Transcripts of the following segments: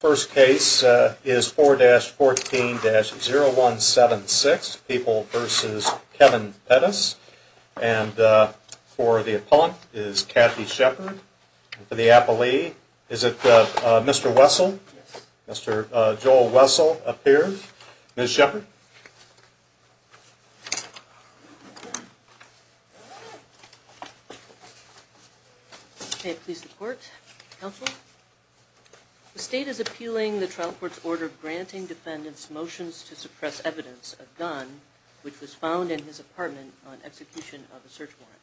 First case is 4-14-0176, People v. Kevin Pettis, and for the appellant is Kathy Shepard. For the appellee is it Mr. Wessel? Yes. Mr. Joel Wessel appears. Ms. Shepard? Ms. Shepard? May it please the court. Counsel? The state is appealing the trial court's order granting defendants motions to suppress evidence of gun, which was found in his apartment on execution of a search warrant.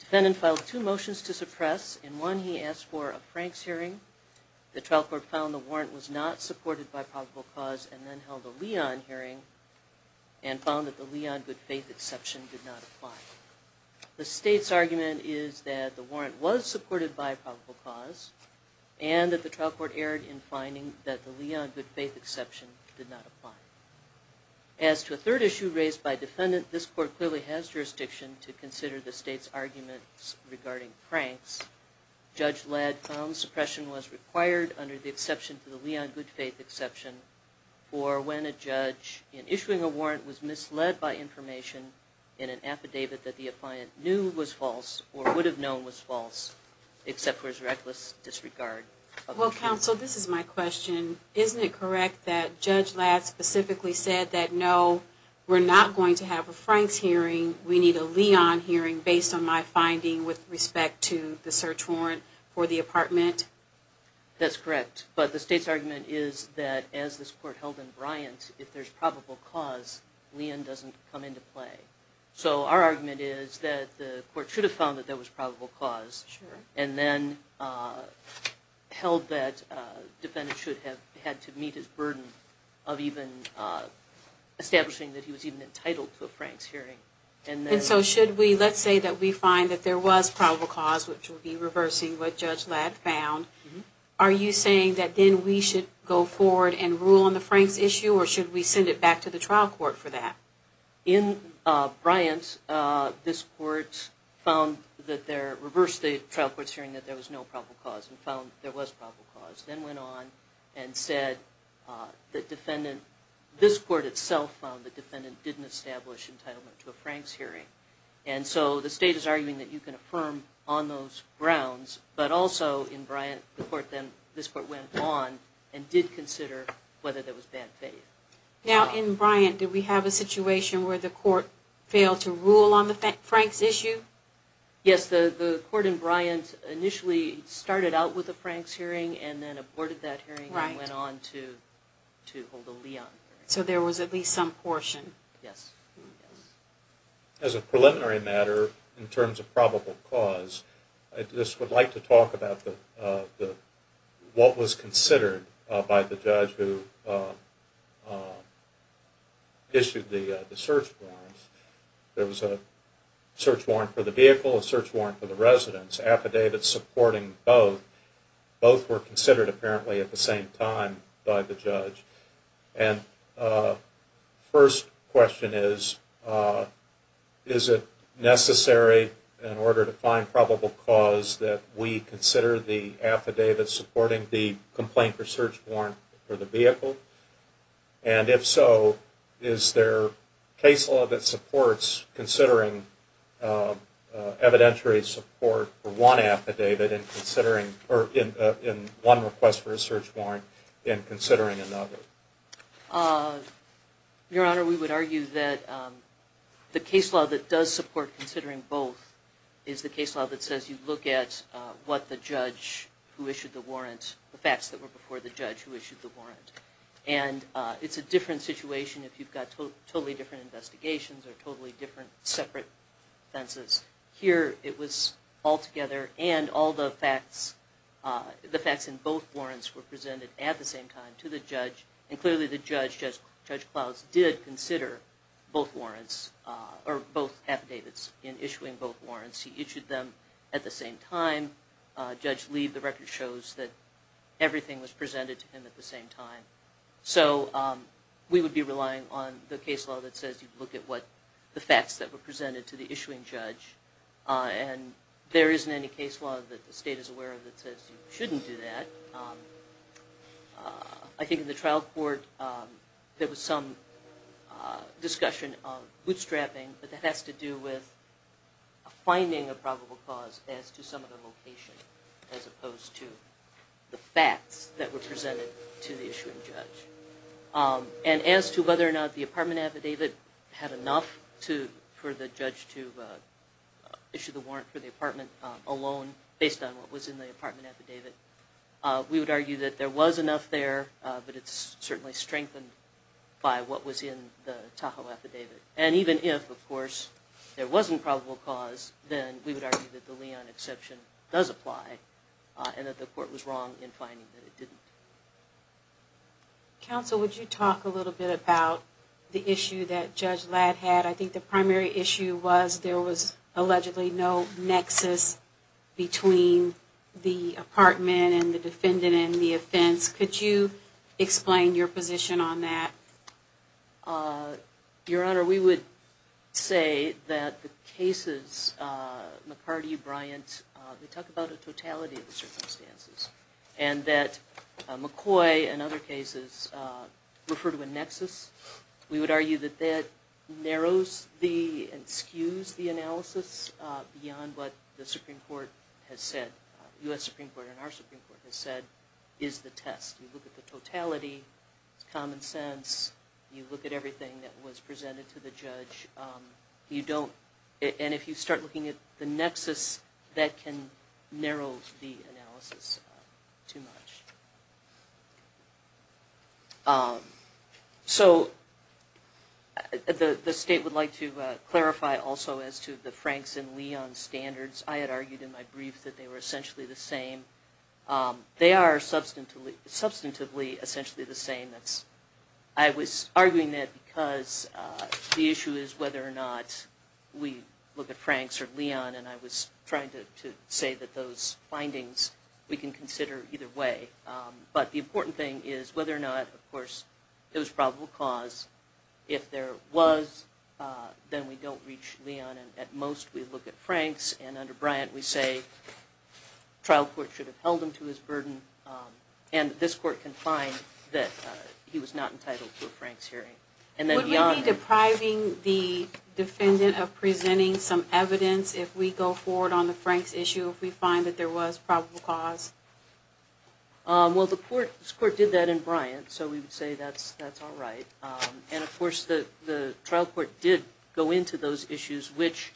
Defendant filed two motions to suppress. In one, he asked for a Franks hearing. The trial court found the warrant was not supported by probable cause and then held a Leon hearing and found that the Leon good-faith exception did not apply. The state's argument is that the warrant was supported by probable cause and that the trial court erred in finding that the Leon good-faith exception did not apply. As to a third issue raised by defendant, this court clearly has jurisdiction to consider the state's arguments regarding Franks. Judge Ladd found suppression was required under the exception to the Leon good-faith exception for when a judge in issuing a warrant was misled by information in an affidavit that the appliant knew was false or would have known was false, except for his reckless disregard. Well, counsel, this is my question. Isn't it correct that Judge Ladd specifically said that no, we're not going to have a Franks hearing, we need a Leon hearing based on my finding with respect to the search warrant for the apartment? That's correct, but the state's argument is that as this court held in Bryant, if there's probable cause, Leon doesn't come into play. So our argument is that the court should have found that there was probable cause and then held that defendant should have had to meet his burden of even establishing that he was even entitled to a Franks hearing. And so should we, let's say that we find that there was probable cause, which would be reversing what Judge Ladd found, are you saying that then we should go forward and rule on the Franks issue or should we send it back to the trial court for that? In Bryant, this court found that there, reversed the trial court's hearing that there was no probable cause and found that there was probable cause, then went on and said that defendant, this court itself found that defendant didn't establish entitlement to a Franks hearing. And so the court went on and affirmed on those grounds, but also in Bryant, this court went on and did consider whether there was bad faith. Now in Bryant, did we have a situation where the court failed to rule on the Franks issue? Yes, the court in Bryant initially started out with a Franks hearing and then aborted that hearing and went on to hold a Leon hearing. So there was at least some portion? Yes. As a preliminary matter, in terms of probable cause, I just would like to talk about what was considered by the judge who issued the search warrants. There was a search warrant for the vehicle, a search warrant for the residence, affidavits supporting both. Both were considered apparently at the same time by the judge. And first question is, is it necessary in order to find probable cause that we consider the affidavit supporting the complaint for search warrant for the vehicle? And if so, is there case law that supports considering evidentiary support for one affidavit in one request for a search warrant in considering another? Your Honor, we would argue that the case law that does support considering both is the case law that says you look at what the judge who issued the warrant, the facts that were before the judge who issued the warrant. And it's a different situation if you've got totally different investigations or totally different separate offenses. Here it was all together and all the facts in both warrants were presented at the same time to the judge. And clearly the judge, Judge Clouse, did consider both warrants or both affidavits in issuing both warrants. He issued them at the same time. Judge Lee, the record shows that everything was presented to him at the same time. So we would be relying on the case law that says you look at what the facts that were presented to the issuing judge. And there isn't any case law that the state is aware of that says you shouldn't do that. I think in the trial court there was some discussion of bootstrapping, but that has to do with finding a probable cause as to the issuing judge. And as to whether or not the apartment affidavit had enough for the judge to issue the warrant for the apartment alone based on what was in the apartment affidavit, we would argue that there was enough there, but it's certainly strengthened by what was in the Tahoe affidavit. And even if, of course, there wasn't probable cause, then we would argue that the Leon exception does apply and that the court was wrong in finding that it didn't. Counsel, would you talk a little bit about the issue that Judge Ladd had? I think the primary issue was there was allegedly no nexus between the apartment and the defendant and the offense. Could you explain your position on that? Your Honor, we would say that the cases, McCarty, Bryant, we talk about a totality of the circumstances and that McCoy and other cases refer to a nexus. We would argue that that narrows and skews the analysis beyond what the Supreme Court has said, U.S. Supreme Court and our Supreme Court has said is the test. You look at the totality, common sense, you look at everything that was presented to the judge. You start looking at the nexus that can narrow the analysis too much. So the state would like to clarify also as to the Franks and Leon standards. I had argued in my brief that they were essentially the same. They are substantively essentially the same. I was arguing that because the issue is whether or not we look at Franks or Leon and I was trying to say that those findings we can consider either way. But the important thing is whether or not, of course, it was probable cause. If there was, then we don't reach Leon and at most we look at Franks and under Bryant we say trial court should have held him to his burden and this court can find that he was not entitled to a Franks hearing. Would we be depriving the defendant of presenting some evidence if we go forward on the Franks issue if we find that there was probable cause? Well this court did that in Bryant so we would say that's all right. And of course the trial court did go into those issues which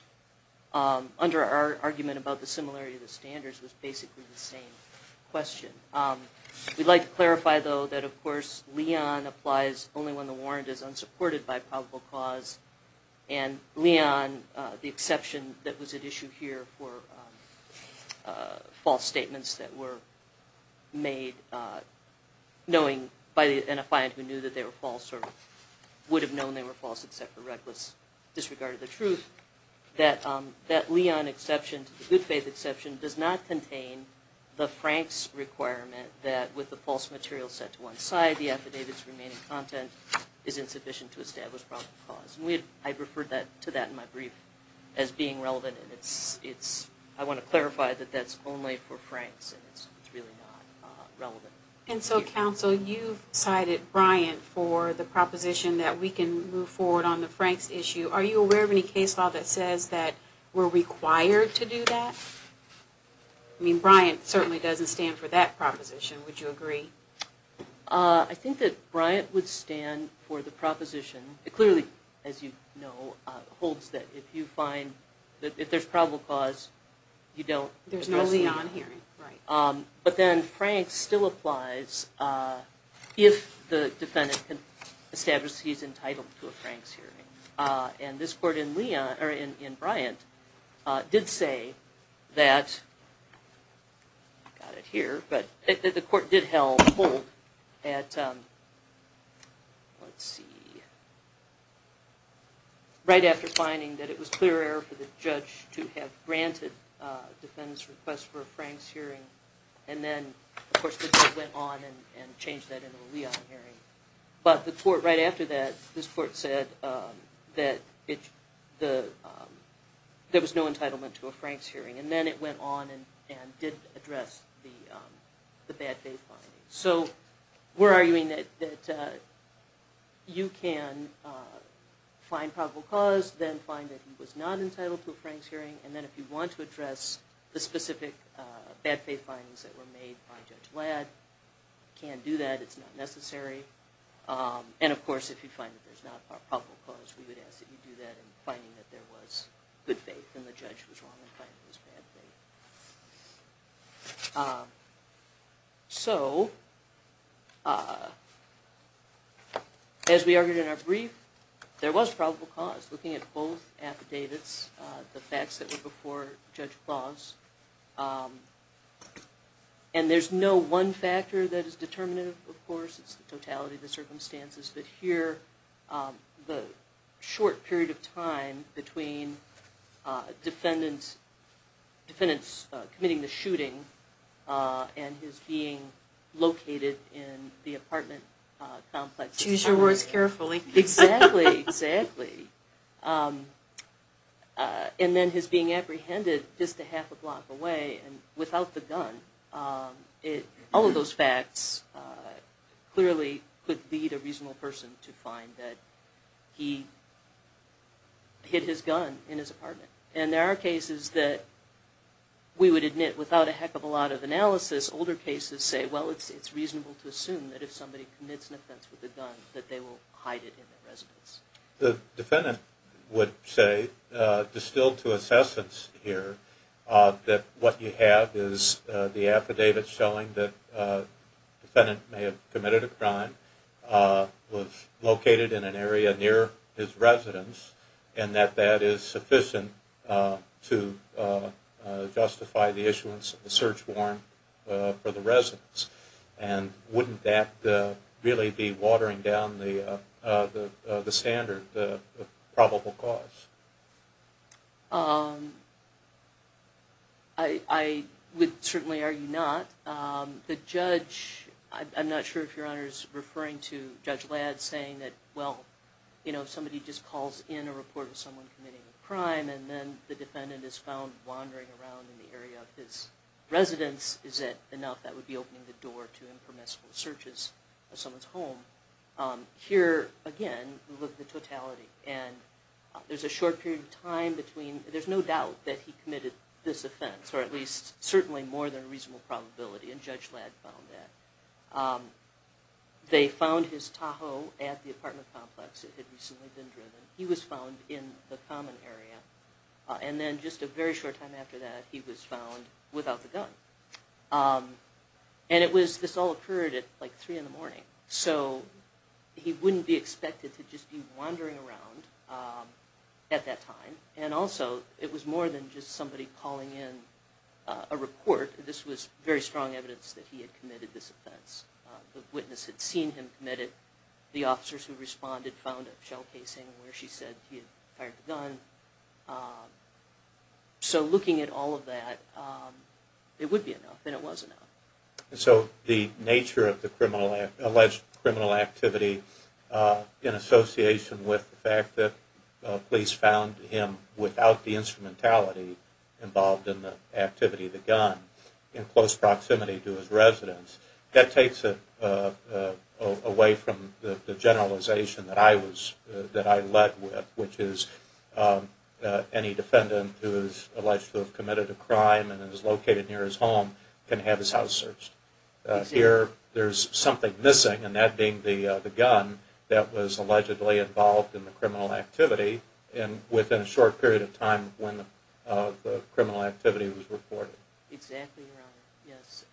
under our argument about the similarity of the standards was basically the same question. We'd like to clarify though that of course Leon applies only when the warrant is unsupported by probable cause and Leon, the exception that was at issue here for false statements that were made knowing by an affiant who knew that they were false or would have known they were false except for reckless disregard of the truth, that Leon exception, the good faith exception, does not contain the Franks requirement that with the false material set to one side the affidavit's remaining content is insufficient to establish probable cause. I referred to that in my brief as being relevant and I want to clarify that that's only for Franks and it's really not relevant. And so counsel you've cited Bryant for the proposition that we can move forward on the Franks issue. Are you aware of any I mean Bryant certainly doesn't stand for that proposition would you agree? I think that Bryant would stand for the proposition. It clearly as you know holds that if you find that if there's probable cause you don't. There's no Leon hearing right. But then Franks still applies if the defendant can establish he's entitled to a Franks hearing and this court in Leon or in Bryant did say that got it here but the court did hold at let's see right after finding that it was clear error for the judge to have granted a defendant's request for a Franks hearing and then of course the court went on and changed that into a Leon hearing. But the court right after that this court said that it the there was no entitlement to a Franks hearing and then it went on and and did address the bad faith findings. So we're arguing that you can find probable cause then find that he was not entitled to a Franks hearing and then if you want to address the specific bad faith findings that were made by Judge Ladd can do that. It's not necessary and of course if you find that there's a probable cause we would ask that you do that in finding that there was good faith and the judge was wrong in finding this bad faith. So as we argued in our brief there was probable cause looking at both affidavits the facts that were before Judge Claus and there's no one factor that is determinative of course it's the totality of the circumstances but here the short period of time between defendants committing the shooting and his being located in the apartment complex. Choose your words carefully. Exactly, exactly. And then his being apprehended just a half a block away and without the gun it all of those facts clearly could lead a reasonable person to find that he hid his gun in his apartment and there are cases that we would admit without a heck of a lot of analysis older cases say well it's it's reasonable to assume that if somebody commits an offense with a gun that they will hide it in their residence. The defendant would say distilled to assessments here that what you have is the affidavit showing that defendant may have committed a crime was located in an area near his residence and that that is sufficient to justify the issuance of the search warrant for the residence and wouldn't that really be watering down the standard the probable cause? I would certainly argue not. The judge I'm not sure if your honor is referring to Judge Ladd saying that well you know somebody just calls in a report of someone committing a crime and then the defendant is found wandering around in the area of his residence is it enough that would be opening the door to impermissible searches of someone's home. Here again look at the totality and there's a short period of time between there's no doubt that he committed this offense or at least certainly more than a reasonable probability and Judge Ladd found that. They found his Tahoe at the apartment complex it had recently been driven he was found in the common area and then just a very short time after that he was found without the gun and it was this all occurred at like three in the morning so he wouldn't be expected to just be wandering around at that time and also it was more than just somebody calling in a report this was very strong evidence that he had committed this offense. The witness had seen him committed the officers who responded found a shell casing where she said he had fired the gun. So looking at all of that it would be enough and it was enough. So the nature of the criminal alleged criminal activity in association with the fact that police found him without the instrumentality involved in the activity of the gun in close proximity to his residence that takes it away from the generalization that I was that I led with which is any defendant who is alleged to have committed a crime and is located near his home can have his house searched. Here there's something missing and that being the gun that was allegedly involved in the criminal activity and within a short period of time when the criminal activity was reported. Exactly your honor yes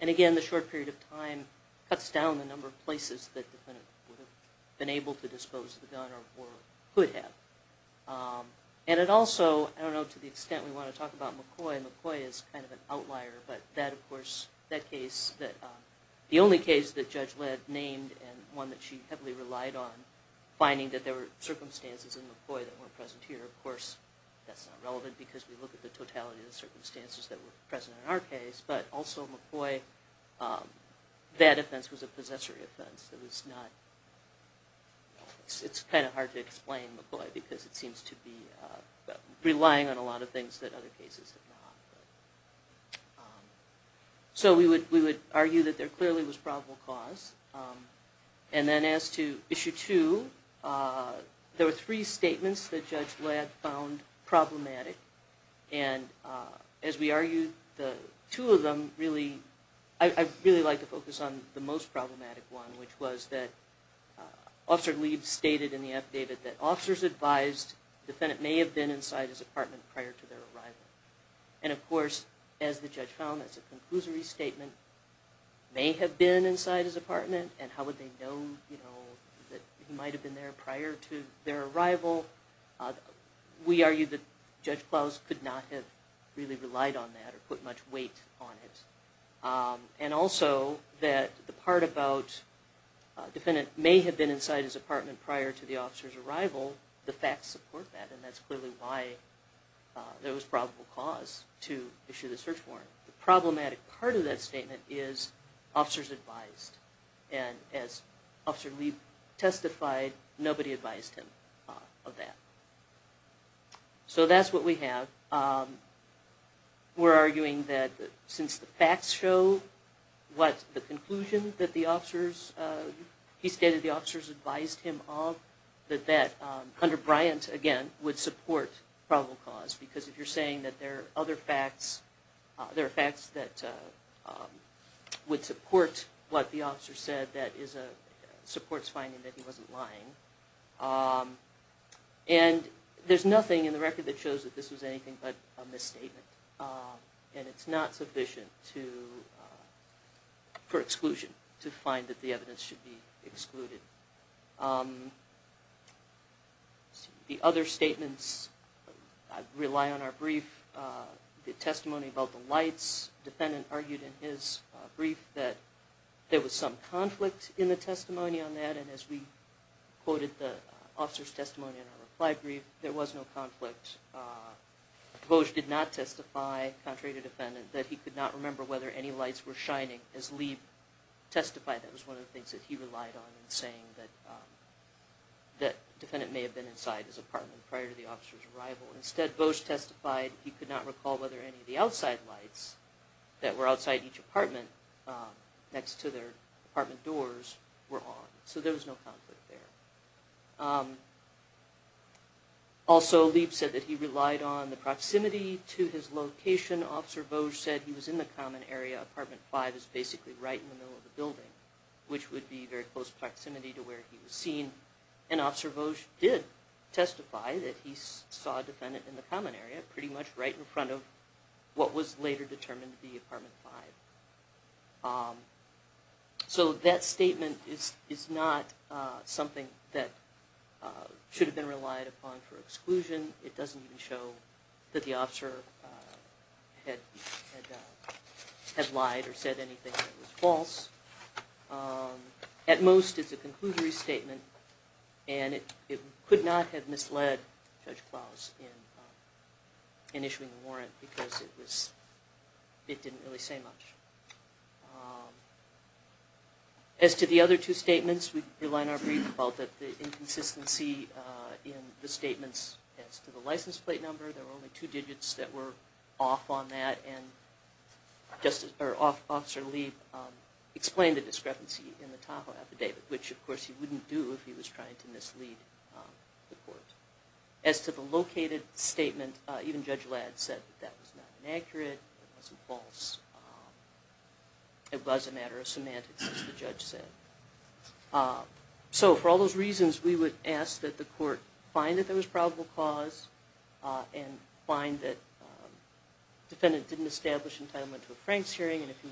and again the short period of time cuts down the number of places that the defendant would have been able to dispose of the gun or could have and it also I don't know to the extent we want to talk about McCoy. McCoy is kind of an outlier but that of course that case that the only case that Judge Ledd named and one that she heavily relied on finding that there were circumstances in McCoy that were present here. Of course that's not relevant because we look at the totality of the circumstances that were present in our case but also McCoy that offense was a possessory offense it was not it's kind of hard to explain McCoy because it seems to be relying on a lot of things that other cases have not. So we would we would argue that there clearly was probable cause and then as to issue two there were three statements that Judge Ledd found problematic and as we argued the two of them really I really like to focus on the most problematic one which was that Officer Leeds stated in the affidavit that officers advised the defendant may have been inside his apartment prior to their arrival and of course as the judge found that's a conclusory statement may have been inside his apartment and how would they know you know that he might have been there prior to their arrival we argued that Judge Clouse could not have really relied on that or put much weight on it and also that the part about defendant may have been inside his apartment prior to the officer's arrival the facts support that and that's clearly why there was probable cause to officers advised and as Officer Leeds testified nobody advised him of that. So that's what we have. We're arguing that since the facts show what the conclusion that the officers he stated the officers advised him of that that under Bryant again would support probable cause because if you're saying that there are other facts there are facts that would support what the officer said that is a supports finding that he wasn't lying and there's nothing in the record that shows that this was anything but a misstatement and it's not sufficient to for exclusion to find that the evidence should be excluded. The other statements I rely on our brief the testimony about the lights defendant argued in his brief that there was some conflict in the testimony on that and as we quoted the officer's testimony in our reply brief there was no conflict. Vosge did not testify contrary to defendant that he could not remember whether any lights were shining as Leed testified that was one of the things that he relied on in saying that that defendant may have been inside his apartment prior to the officer's arrival instead Vosge testified he could not recall whether any of the outside lights that were outside each apartment next to their apartment doors were on so there was no conflict there. Also Leed said that he relied on the proximity to his location officer Vosge said he was in the common area apartment five is basically right in the middle of the building which would be very close proximity to where he was seen and officer Vosge did testify that he saw a defendant in the common area pretty much right in front of what was later determined to be apartment five. So that statement is is not something that should have been relied upon for exclusion it doesn't even show that the officer had had lied or said anything that was false. At most it's a conclusory statement and it could not have misled Judge Klaus in issuing the warrant because it was it didn't really say much. As to the other two statements we rely on our brief about the inconsistency in the statements as to the license plate number there were only two digits that were off on that and just or officer Leed explained the discrepancy in the Tahoe affidavit which of he was trying to mislead the court. As to the located statement even Judge Ladd said that was not inaccurate, it wasn't false, it was a matter of semantics as the judge said. So for all those reasons we would ask that the court find that there was probable cause and find that defendant didn't establish entitlement to a Franks hearing and if you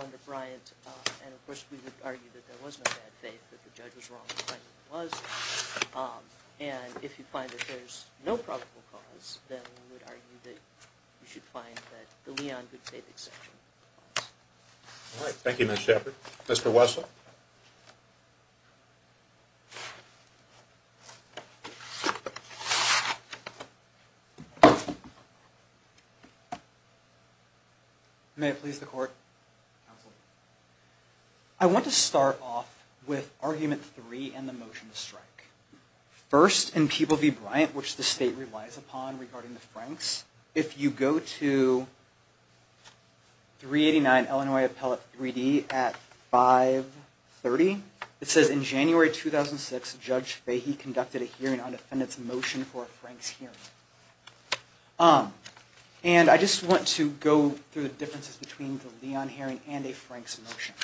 under Bryant and of course we would argue that there was no bad faith that the judge was wrong and if you find that there's no probable cause then we would argue that you should find that the Leon good faith exception. All right thank you Ms. Shepard. Mr. Wessel. May it please the court. I want to start off with argument three and the motion to strike. First in People v. Bryant which the state relies upon regarding the Franks if you go to 389 Illinois Appellate 3D at 530 it says in January 2006 Judge Fahey conducted a hearing on defendant's motion for a Franks hearing and I just want to go through the differences between the Leon hearing and a Franks motion.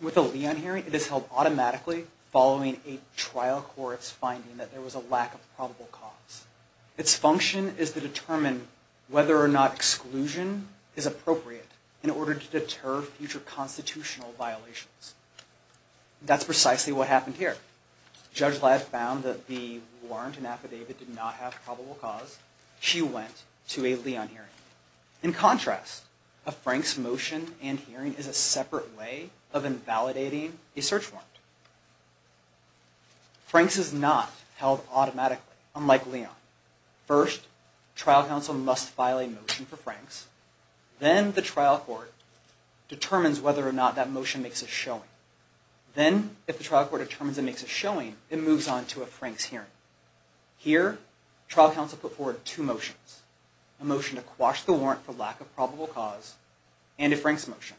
With a Leon hearing it is held automatically following a trial court's finding that there was a lack of probable cause. Its function is to determine whether or not exclusion is appropriate in order to deter future constitutional violations. That's precisely what happened here. Judge Ladd found that the warrant and affidavit did not have probable cause. She went to a Leon hearing. In contrast a Franks motion and hearing is a separate way of invalidating a search warrant. Franks is not held automatically unlike Leon. First trial counsel must file a Franks then the trial court determines whether or not that motion makes a showing. Then if the trial court determines it makes a showing it moves on to a Franks hearing. Here trial counsel put forward two motions. A motion to quash the warrant for lack of probable cause and a Franks motion.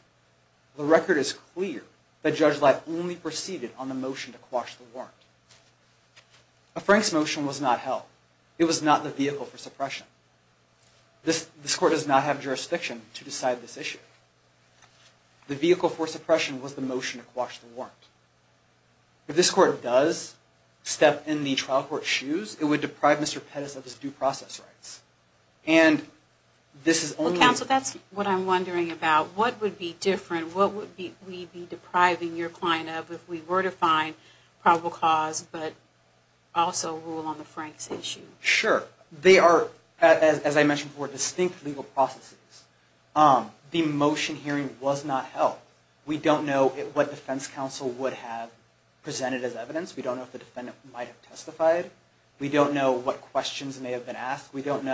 The record is clear that Judge Ladd only proceeded on the motion to quash the warrant. A Franks motion was not held. It was not the vehicle for suppression. This court does not have jurisdiction to decide this issue. The vehicle for suppression was the motion to quash the warrant. If this court does step in the trial court's shoes it would deprive Mr. Pettis of his due process rights. And this is only... Well counsel that's what I'm wondering about. What would be different? What would we be depriving your client of if we were to find probable cause but also rule on the Franks issue? Sure. They are as I mentioned before distinct legal processes. The motion hearing was not held. We don't know what defense counsel would have presented as evidence. We don't know if the defendant might have testified. We don't know what questions may have been asked. We don't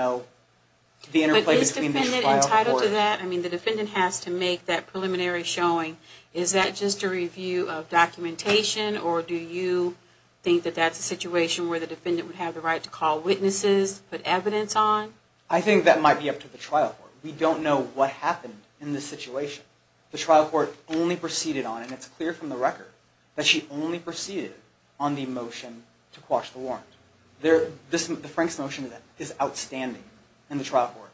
Is that just a review of documentation or do you think that that's a situation where the defendant would have the right to call witnesses, put evidence on? I think that might be up to the trial court. We don't know what happened in this situation. The trial court only proceeded on and it's clear from the record that she only proceeded on the motion to quash the warrant. The Franks motion is outstanding in the trial court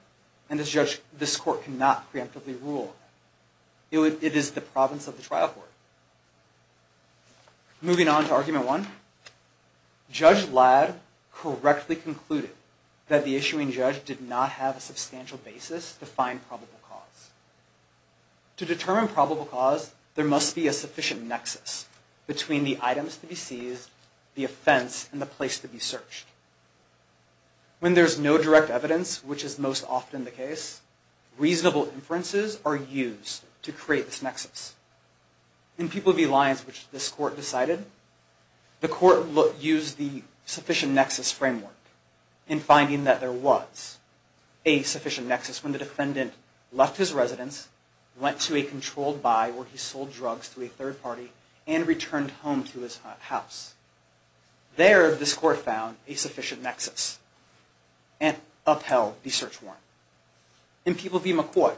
and this court cannot preemptively rule. It is the province of the trial court. Moving on to argument one. Judge Ladd correctly concluded that the issuing judge did not have a substantial basis to find probable cause. To determine probable cause there must be a sufficient nexus between the items to be seized, the offense, and the place to be searched. When there's no direct evidence, which is most often the case, reasonable inferences are used to create this nexus. In People v. Lyons, which this court decided, the court used the sufficient nexus framework in finding that there was a sufficient nexus when the defendant left his residence, went to a controlled buy where he sold drugs to a third party, and returned home to his house. There this court found a sufficient nexus and upheld the search warrant. In People v. McCoy,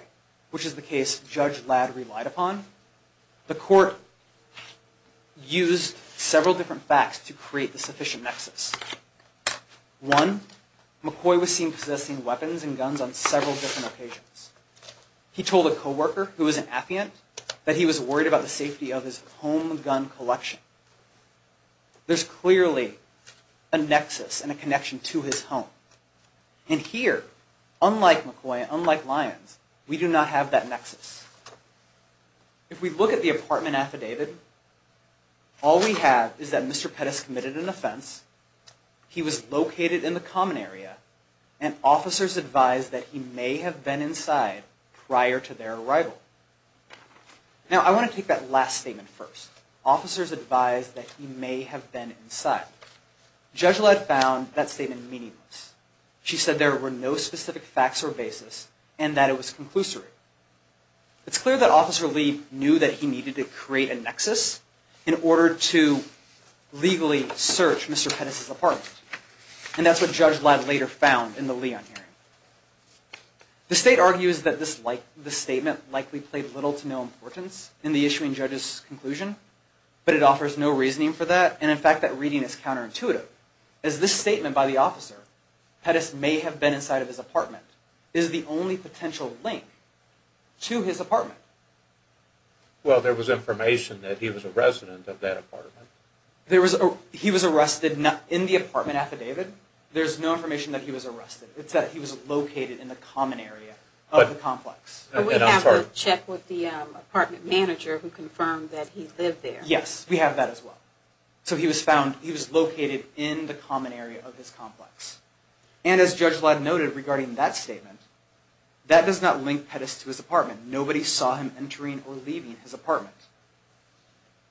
which is the case Judge Ladd relied upon, the court used several different facts to create the sufficient nexus. One, McCoy was seen possessing weapons and guns on several different occasions. He told a co-worker who was an affiant that he was worried about the safety of his home collection. There's clearly a nexus and a connection to his home. And here, unlike McCoy, unlike Lyons, we do not have that nexus. If we look at the apartment affidavit, all we have is that Mr. Pettis committed an offense, he was located in the common area, and officers advised that he may have been inside prior to their arrival. Now, I want to take that last statement first. Officers advised that he may have been inside. Judge Ladd found that statement meaningless. She said there were no specific facts or basis, and that it was conclusory. It's clear that Officer Lee knew that he needed to create a nexus in order to legally search Mr. Pettis' apartment. And that's what Judge Ladd later found in the affidavit. It's clear that he played little to no importance in the issuing judge's conclusion, but it offers no reasoning for that. And in fact, that reading is counterintuitive, as this statement by the officer, Pettis may have been inside of his apartment, is the only potential link to his apartment. Well, there was information that he was a resident of that apartment. He was arrested in the apartment affidavit. There's no information that he was apartment manager who confirmed that he lived there. Yes, we have that as well. So he was found, he was located in the common area of his complex. And as Judge Ladd noted regarding that statement, that does not link Pettis to his apartment. Nobody saw him entering or leaving his apartment.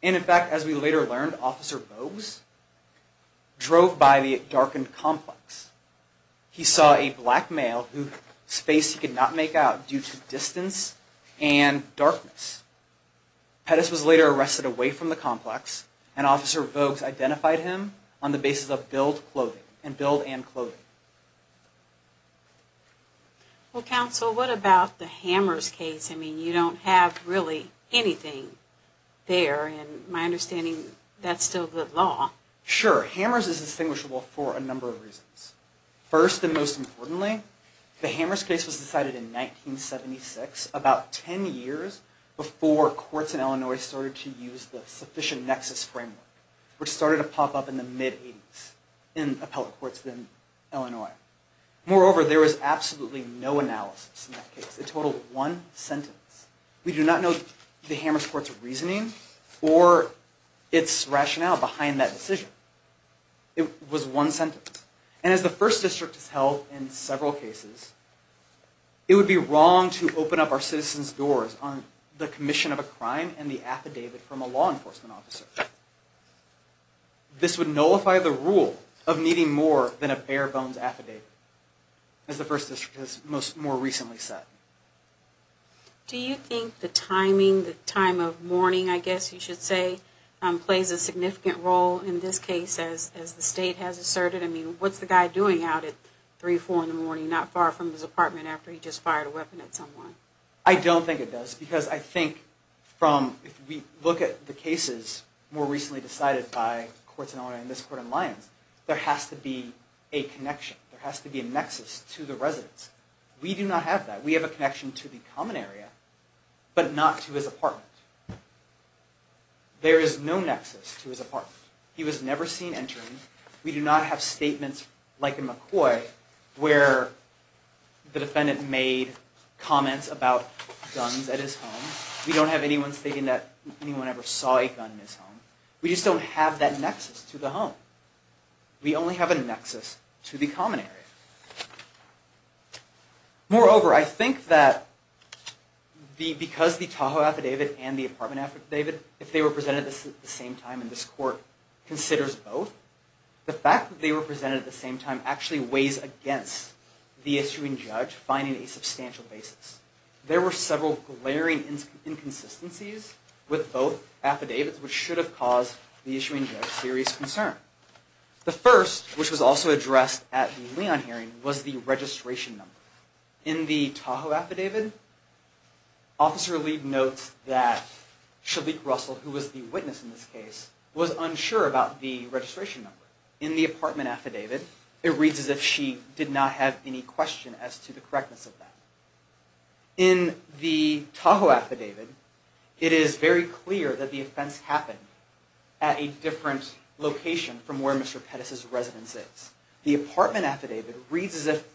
And in fact, as we later learned, Officer Bogues drove by the darkened complex. He saw a black due to distance and darkness. Pettis was later arrested away from the complex and Officer Bogues identified him on the basis of billed clothing and billed and clothing. Well, counsel, what about the Hammers case? I mean, you don't have really anything there. And my understanding, that's still the law. Sure. Hammers is distinguishable for a number of reasons. First, and most importantly, the Hammers case was decided in 1976, about 10 years before courts in Illinois started to use the sufficient nexus framework, which started to pop up in the mid-80s in appellate courts in Illinois. Moreover, there was absolutely no analysis in that case. It totaled one sentence. We do not know the Hammers court's reasoning or its rationale behind that decision. It was one sentence. And as the First District has held in several cases, it would be wrong to open up our citizens' doors on the commission of a crime and the affidavit from a law enforcement officer. This would nullify the rule of needing more than a bare bones affidavit, as the First District has most more recently said. Do you think the timing, the time of mourning, I guess you should say, plays a significant role in this case, as the state has asserted? I mean, what's the guy doing out at three, four in the morning, not far from his apartment after he just fired a weapon at someone? I don't think it does, because I think from, if we look at the cases more recently decided by courts in Illinois and this court in Lyons, there has to be a connection. There has to be a nexus to the residents. We do not have that. We have a connection to the common area, but not to his apartment. He was never seen entering. We do not have statements like in McCoy, where the defendant made comments about guns at his home. We don't have anyone stating that anyone ever saw a gun in his home. We just don't have that nexus to the home. We only have a nexus to the common area. Moreover, I think that because the Tahoe affidavit and the apartment affidavit, if they were presented at the same time, and this court considers both, the fact that they were presented at the same time actually weighs against the issuing judge finding a substantial basis. There were several glaring inconsistencies with both affidavits, which should have caused the issuing judge serious concern. The first, which was also addressed at the Lyon hearing, was the registration number. In the Tahoe affidavit, Officer Lee notes that Shalique Russell, who was the witness in this case, was unsure about the registration number. In the apartment affidavit, it reads as if she did not have any question as to the correctness of that. In the Tahoe affidavit, it is very clear that the offense happened at a different location from Mr. Pettis' residence. The apartment affidavit reads as if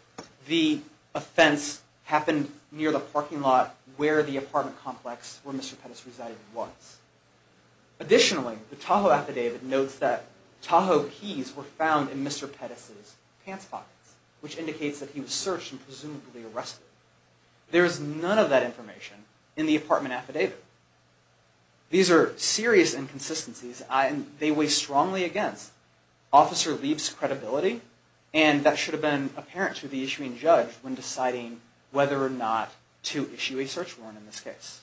the offense happened near the parking lot where the apartment complex where Mr. Pettis resided was. Additionally, the Tahoe affidavit notes that Tahoe keys were found in Mr. Pettis' pants pockets, which indicates that he was searched and presumably arrested. There is none of that information in the apartment affidavit. These are serious inconsistencies and they weigh strongly against Officer Lee's credibility and that should have been apparent to the issuing judge when deciding whether or not to issue a search warrant in this case.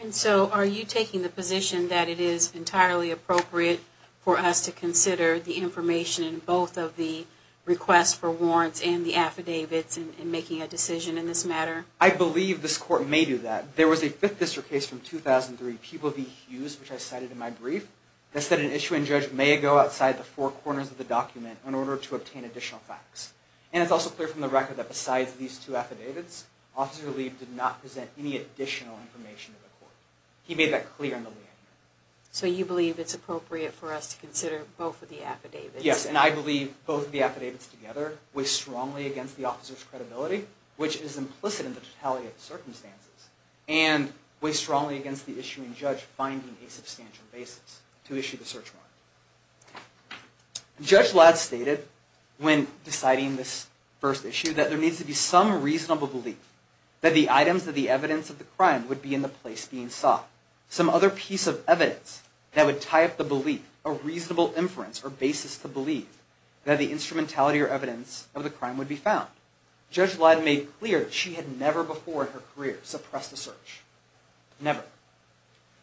And so, are you taking the position that it is entirely appropriate for us to consider the information in both of the requests for warrants and the affidavits in making a decision in this matter? I believe this court may do that. There was a Fifth District case from 2003, People v. Hughes, which I cited in my brief, that said an issuing judge may go outside the four corners of the document in order to obtain additional facts. And it's also clear from the record that besides these two affidavits, Officer Lee did not present any additional information to the court. He made that clear in the liaison hearing. So, you believe it's appropriate for us to consider both of the affidavits? Yes, and I believe both of the affidavits together weigh strongly against the officer's credibility, which is implicit in the circumstances, and weigh strongly against the issuing judge finding a substantial basis to issue the search warrant. Judge Ladd stated when deciding this first issue that there needs to be some reasonable belief that the items of the evidence of the crime would be in the place being sought. Some other piece of evidence that would tie up the belief, a reasonable inference or basis to believe that the instrumentality or evidence of the crime would be found. Judge Ladd made clear that she had never before in her career suppressed a search. Never.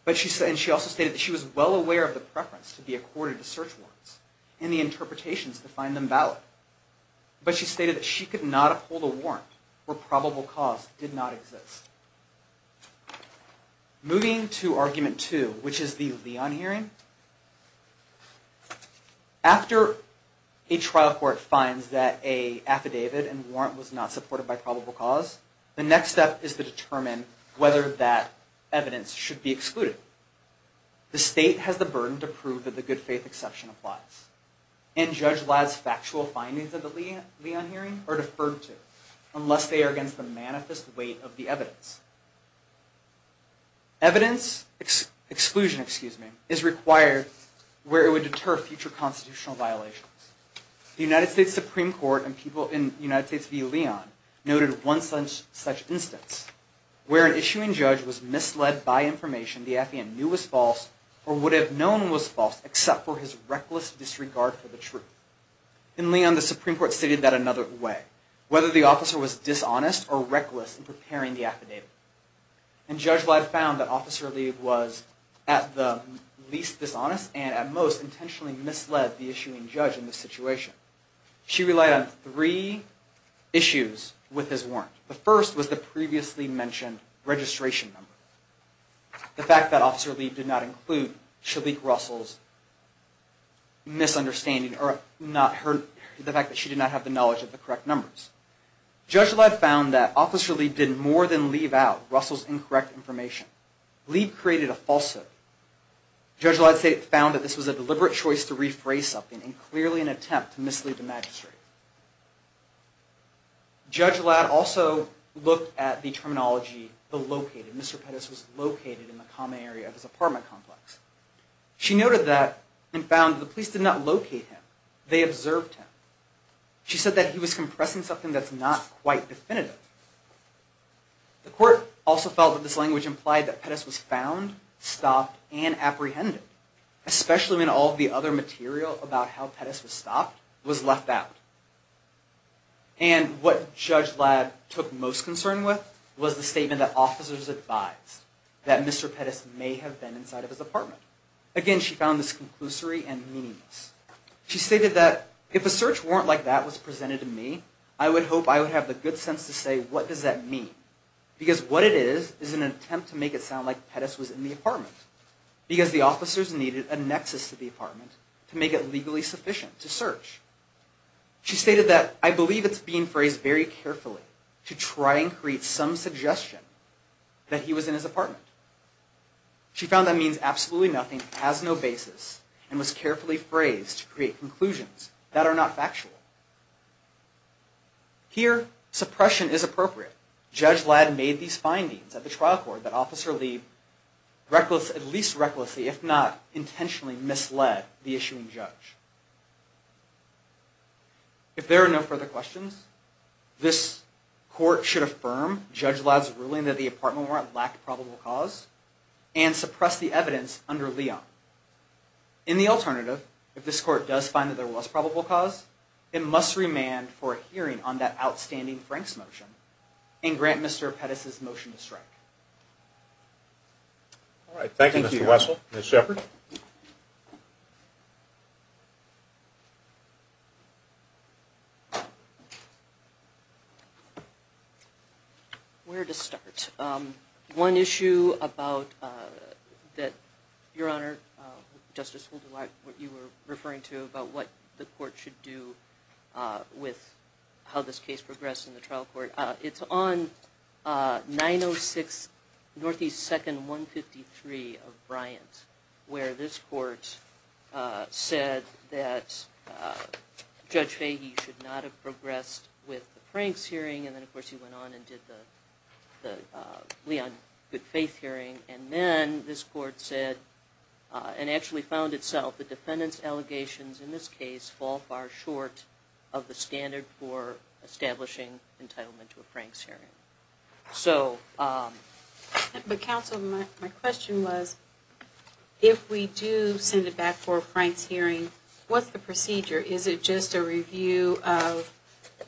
And she also stated that she was well aware of the preference to be accorded to search warrants, and the interpretations to find them valid. But she stated that she could not uphold a warrant where probable cause did not exist. Moving to argument two, which is the Leon hearing. After a trial court finds that a affidavit and warrant was not supported by probable cause, the next step is to determine whether that evidence should be excluded. The state has the burden to prove that the good faith exception applies, and Judge Ladd's factual findings of the Leon hearing are deferred to, unless they are against the manifest weight of the evidence. Evidence exclusion is required where it would deter future constitutional violations. The United States Supreme Court and people in United States v. Leon noted one such instance, where an issuing judge was misled by information the affidavit knew was false, or would have known was false, except for his reckless disregard for the truth. In Leon, the Supreme Court stated that another way, whether the officer was dishonest or reckless in preparing the affidavit. And Judge Ladd found that Officer Lee was at the least dishonest, and at most intentionally misled the issuing judge in this situation. She relied on three issues with his warrant. The first was the previously mentioned registration number. The fact that Officer Lee did not include Chalik Russell's misunderstanding, or the fact that she did not have the knowledge of the correct numbers. Judge Ladd found that Officer Lee did more than leave out Russell's falsehood. Judge Ladd found that this was a deliberate choice to rephrase something in clearly an attempt to mislead the magistrate. Judge Ladd also looked at the terminology, the located. Mr. Pettis was located in the common area of his apartment complex. She noted that, and found the police did not locate him, they observed him. She said that he was compressing something that's not quite definitive. The court also felt that this stopped and apprehended, especially when all the other material about how Pettis was stopped was left out. And what Judge Ladd took most concern with was the statement that officers advised that Mr. Pettis may have been inside of his apartment. Again, she found this conclusory and meaningless. She stated that, if a search warrant like that was presented to me, I would hope I would have the good sense to say, what does that mean? Because what it is, is an attempt to sound like Pettis was in the apartment. Because the officers needed a nexus to the apartment to make it legally sufficient to search. She stated that, I believe it's being phrased very carefully to try and create some suggestion that he was in his apartment. She found that means absolutely nothing, has no basis, and was carefully phrased to create conclusions that are not factual. Here, suppression is appropriate. Judge Ladd made these findings at the trial court that Officer Lee at least recklessly, if not intentionally, misled the issuing judge. If there are no further questions, this court should affirm Judge Ladd's ruling that the apartment warrant lacked probable cause and suppress the evidence under Leon. In the alternative, if this court does find that there was probable cause, it must remand for a hearing on that outstanding Frank's motion and grant Mr. Pettis' motion to strike. All right. Thank you, Mr. Wessel. Ms. Shepard. Where to start? One issue about that, Your Honor, Justice Holder, what you were referring to about the court should do with how this case progressed in the trial court. It's on 906 Northeast 2nd 153 of Bryant, where this court said that Judge Fahey should not have progressed with the Frank's hearing. And then, of course, he went on and did the Leon good faith hearing. And then this court said, and actually found itself that defendants' allegations in this case fall far short of the standard for establishing entitlement to a Frank's hearing. But counsel, my question was, if we do send it back for a Frank's hearing, what's the procedure? Is it just a review of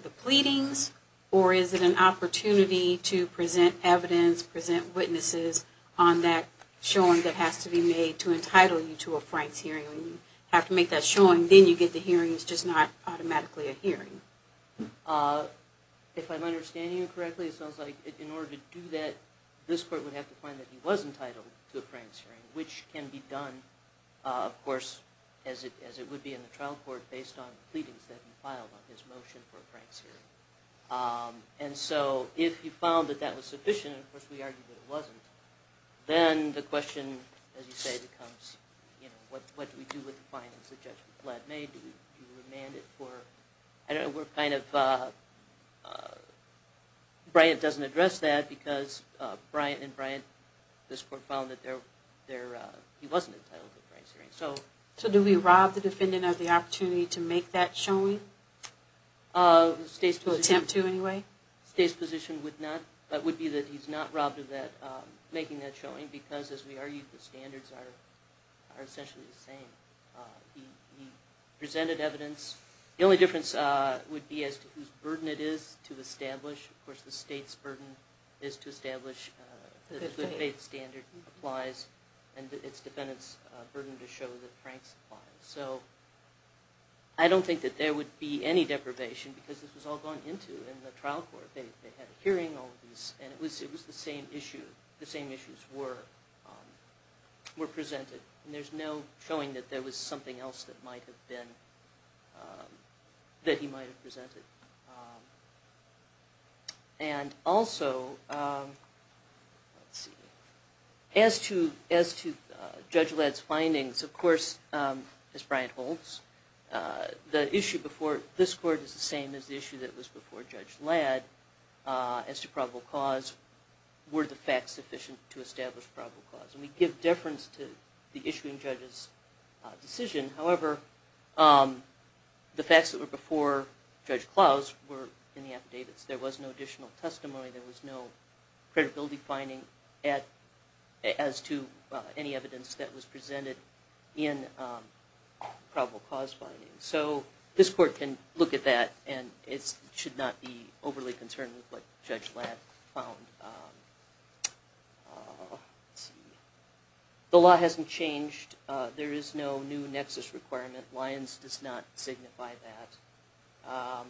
the pleadings, or is it an opportunity to present evidence, present witnesses on that showing that has to be made to entitle you to a Frank's hearing? When you have to make that showing, then you get the hearings, just not automatically a hearing. If I'm understanding you correctly, it sounds like in order to do that, this court would have to find that he was entitled to a Frank's hearing, which can be done, of course, as it would be in the trial court based on the pleadings that his motion for a Frank's hearing. And so if you found that that was sufficient, of course, we argued that it wasn't, then the question, as you say, becomes, you know, what do we do with the findings that Judge Blatt made? Do we remand it for, I don't know, we're kind of, Bryant doesn't address that because Bryant and Bryant, this court found that he wasn't entitled to a Frank's hearing. So do we rob the defendant of the opportunity to make that showing? The state's position would not, but would be that he's not robbed of that, making that showing, because as we argued, the standards are essentially the same. He presented evidence. The only difference would be as to whose burden it is to establish. Of course, the state's burden to show the Frank's file. So I don't think that there would be any deprivation because this was all gone into in the trial court. They had a hearing on these, and it was the same issue. The same issues were presented, and there's no showing that there was something else that might of course, as Bryant holds, the issue before this court is the same as the issue that was before Judge Ladd as to probable cause. Were the facts sufficient to establish probable cause? And we give deference to the issuing judge's decision. However, the facts that were before Judge Klaus were in the affidavits. There was no additional testimony. There was no credibility finding at, as to any evidence that was presented in probable cause finding. So this court can look at that, and it should not be overly concerned with what Judge Ladd found. The law hasn't changed. There is no new nexus requirement. Lyons does not signify that.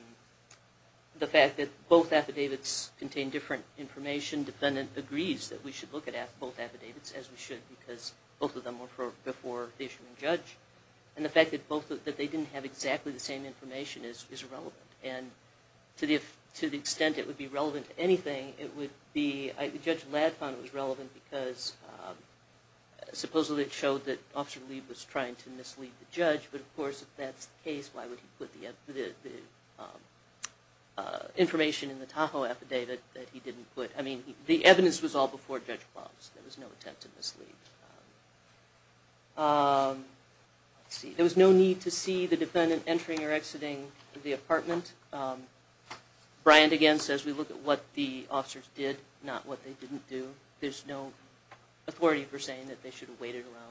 The fact that both affidavits contain different information, defendant agrees that we should look at both affidavits as we should because both of them were before the issuing judge. And the fact that they didn't have exactly the same information is irrelevant. And to the extent it would be relevant to anything, it would be, Judge Ladd found it was relevant because supposedly it showed that Officer Lee was trying to mislead the judge, but of course if that's the case, why would he put the information in the Tahoe affidavit that he didn't put? I mean, the evidence was all before Judge Klaus. There was no attempt to mislead. There was no need to see the defendant entering or exiting the apartment. Bryant again says we look at what the officers did, not what they didn't do. There's no authority for saying that they should have waited around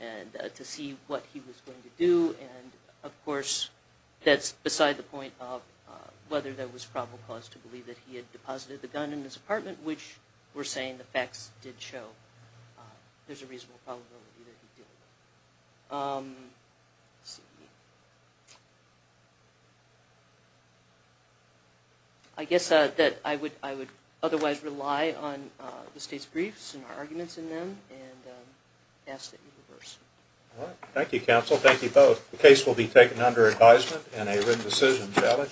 and to see what he was going to do. And of course, that's beside the point of whether there was probable cause to believe that he had deposited the gun in his apartment, which we're saying the facts did show there's a reasonable probability that he did. I guess that I would otherwise rely on the State's briefs and our arguments in them and ask that you reverse. All right. Thank you, counsel. Thank you both. The case will be taken under advisement in a written decision ballot.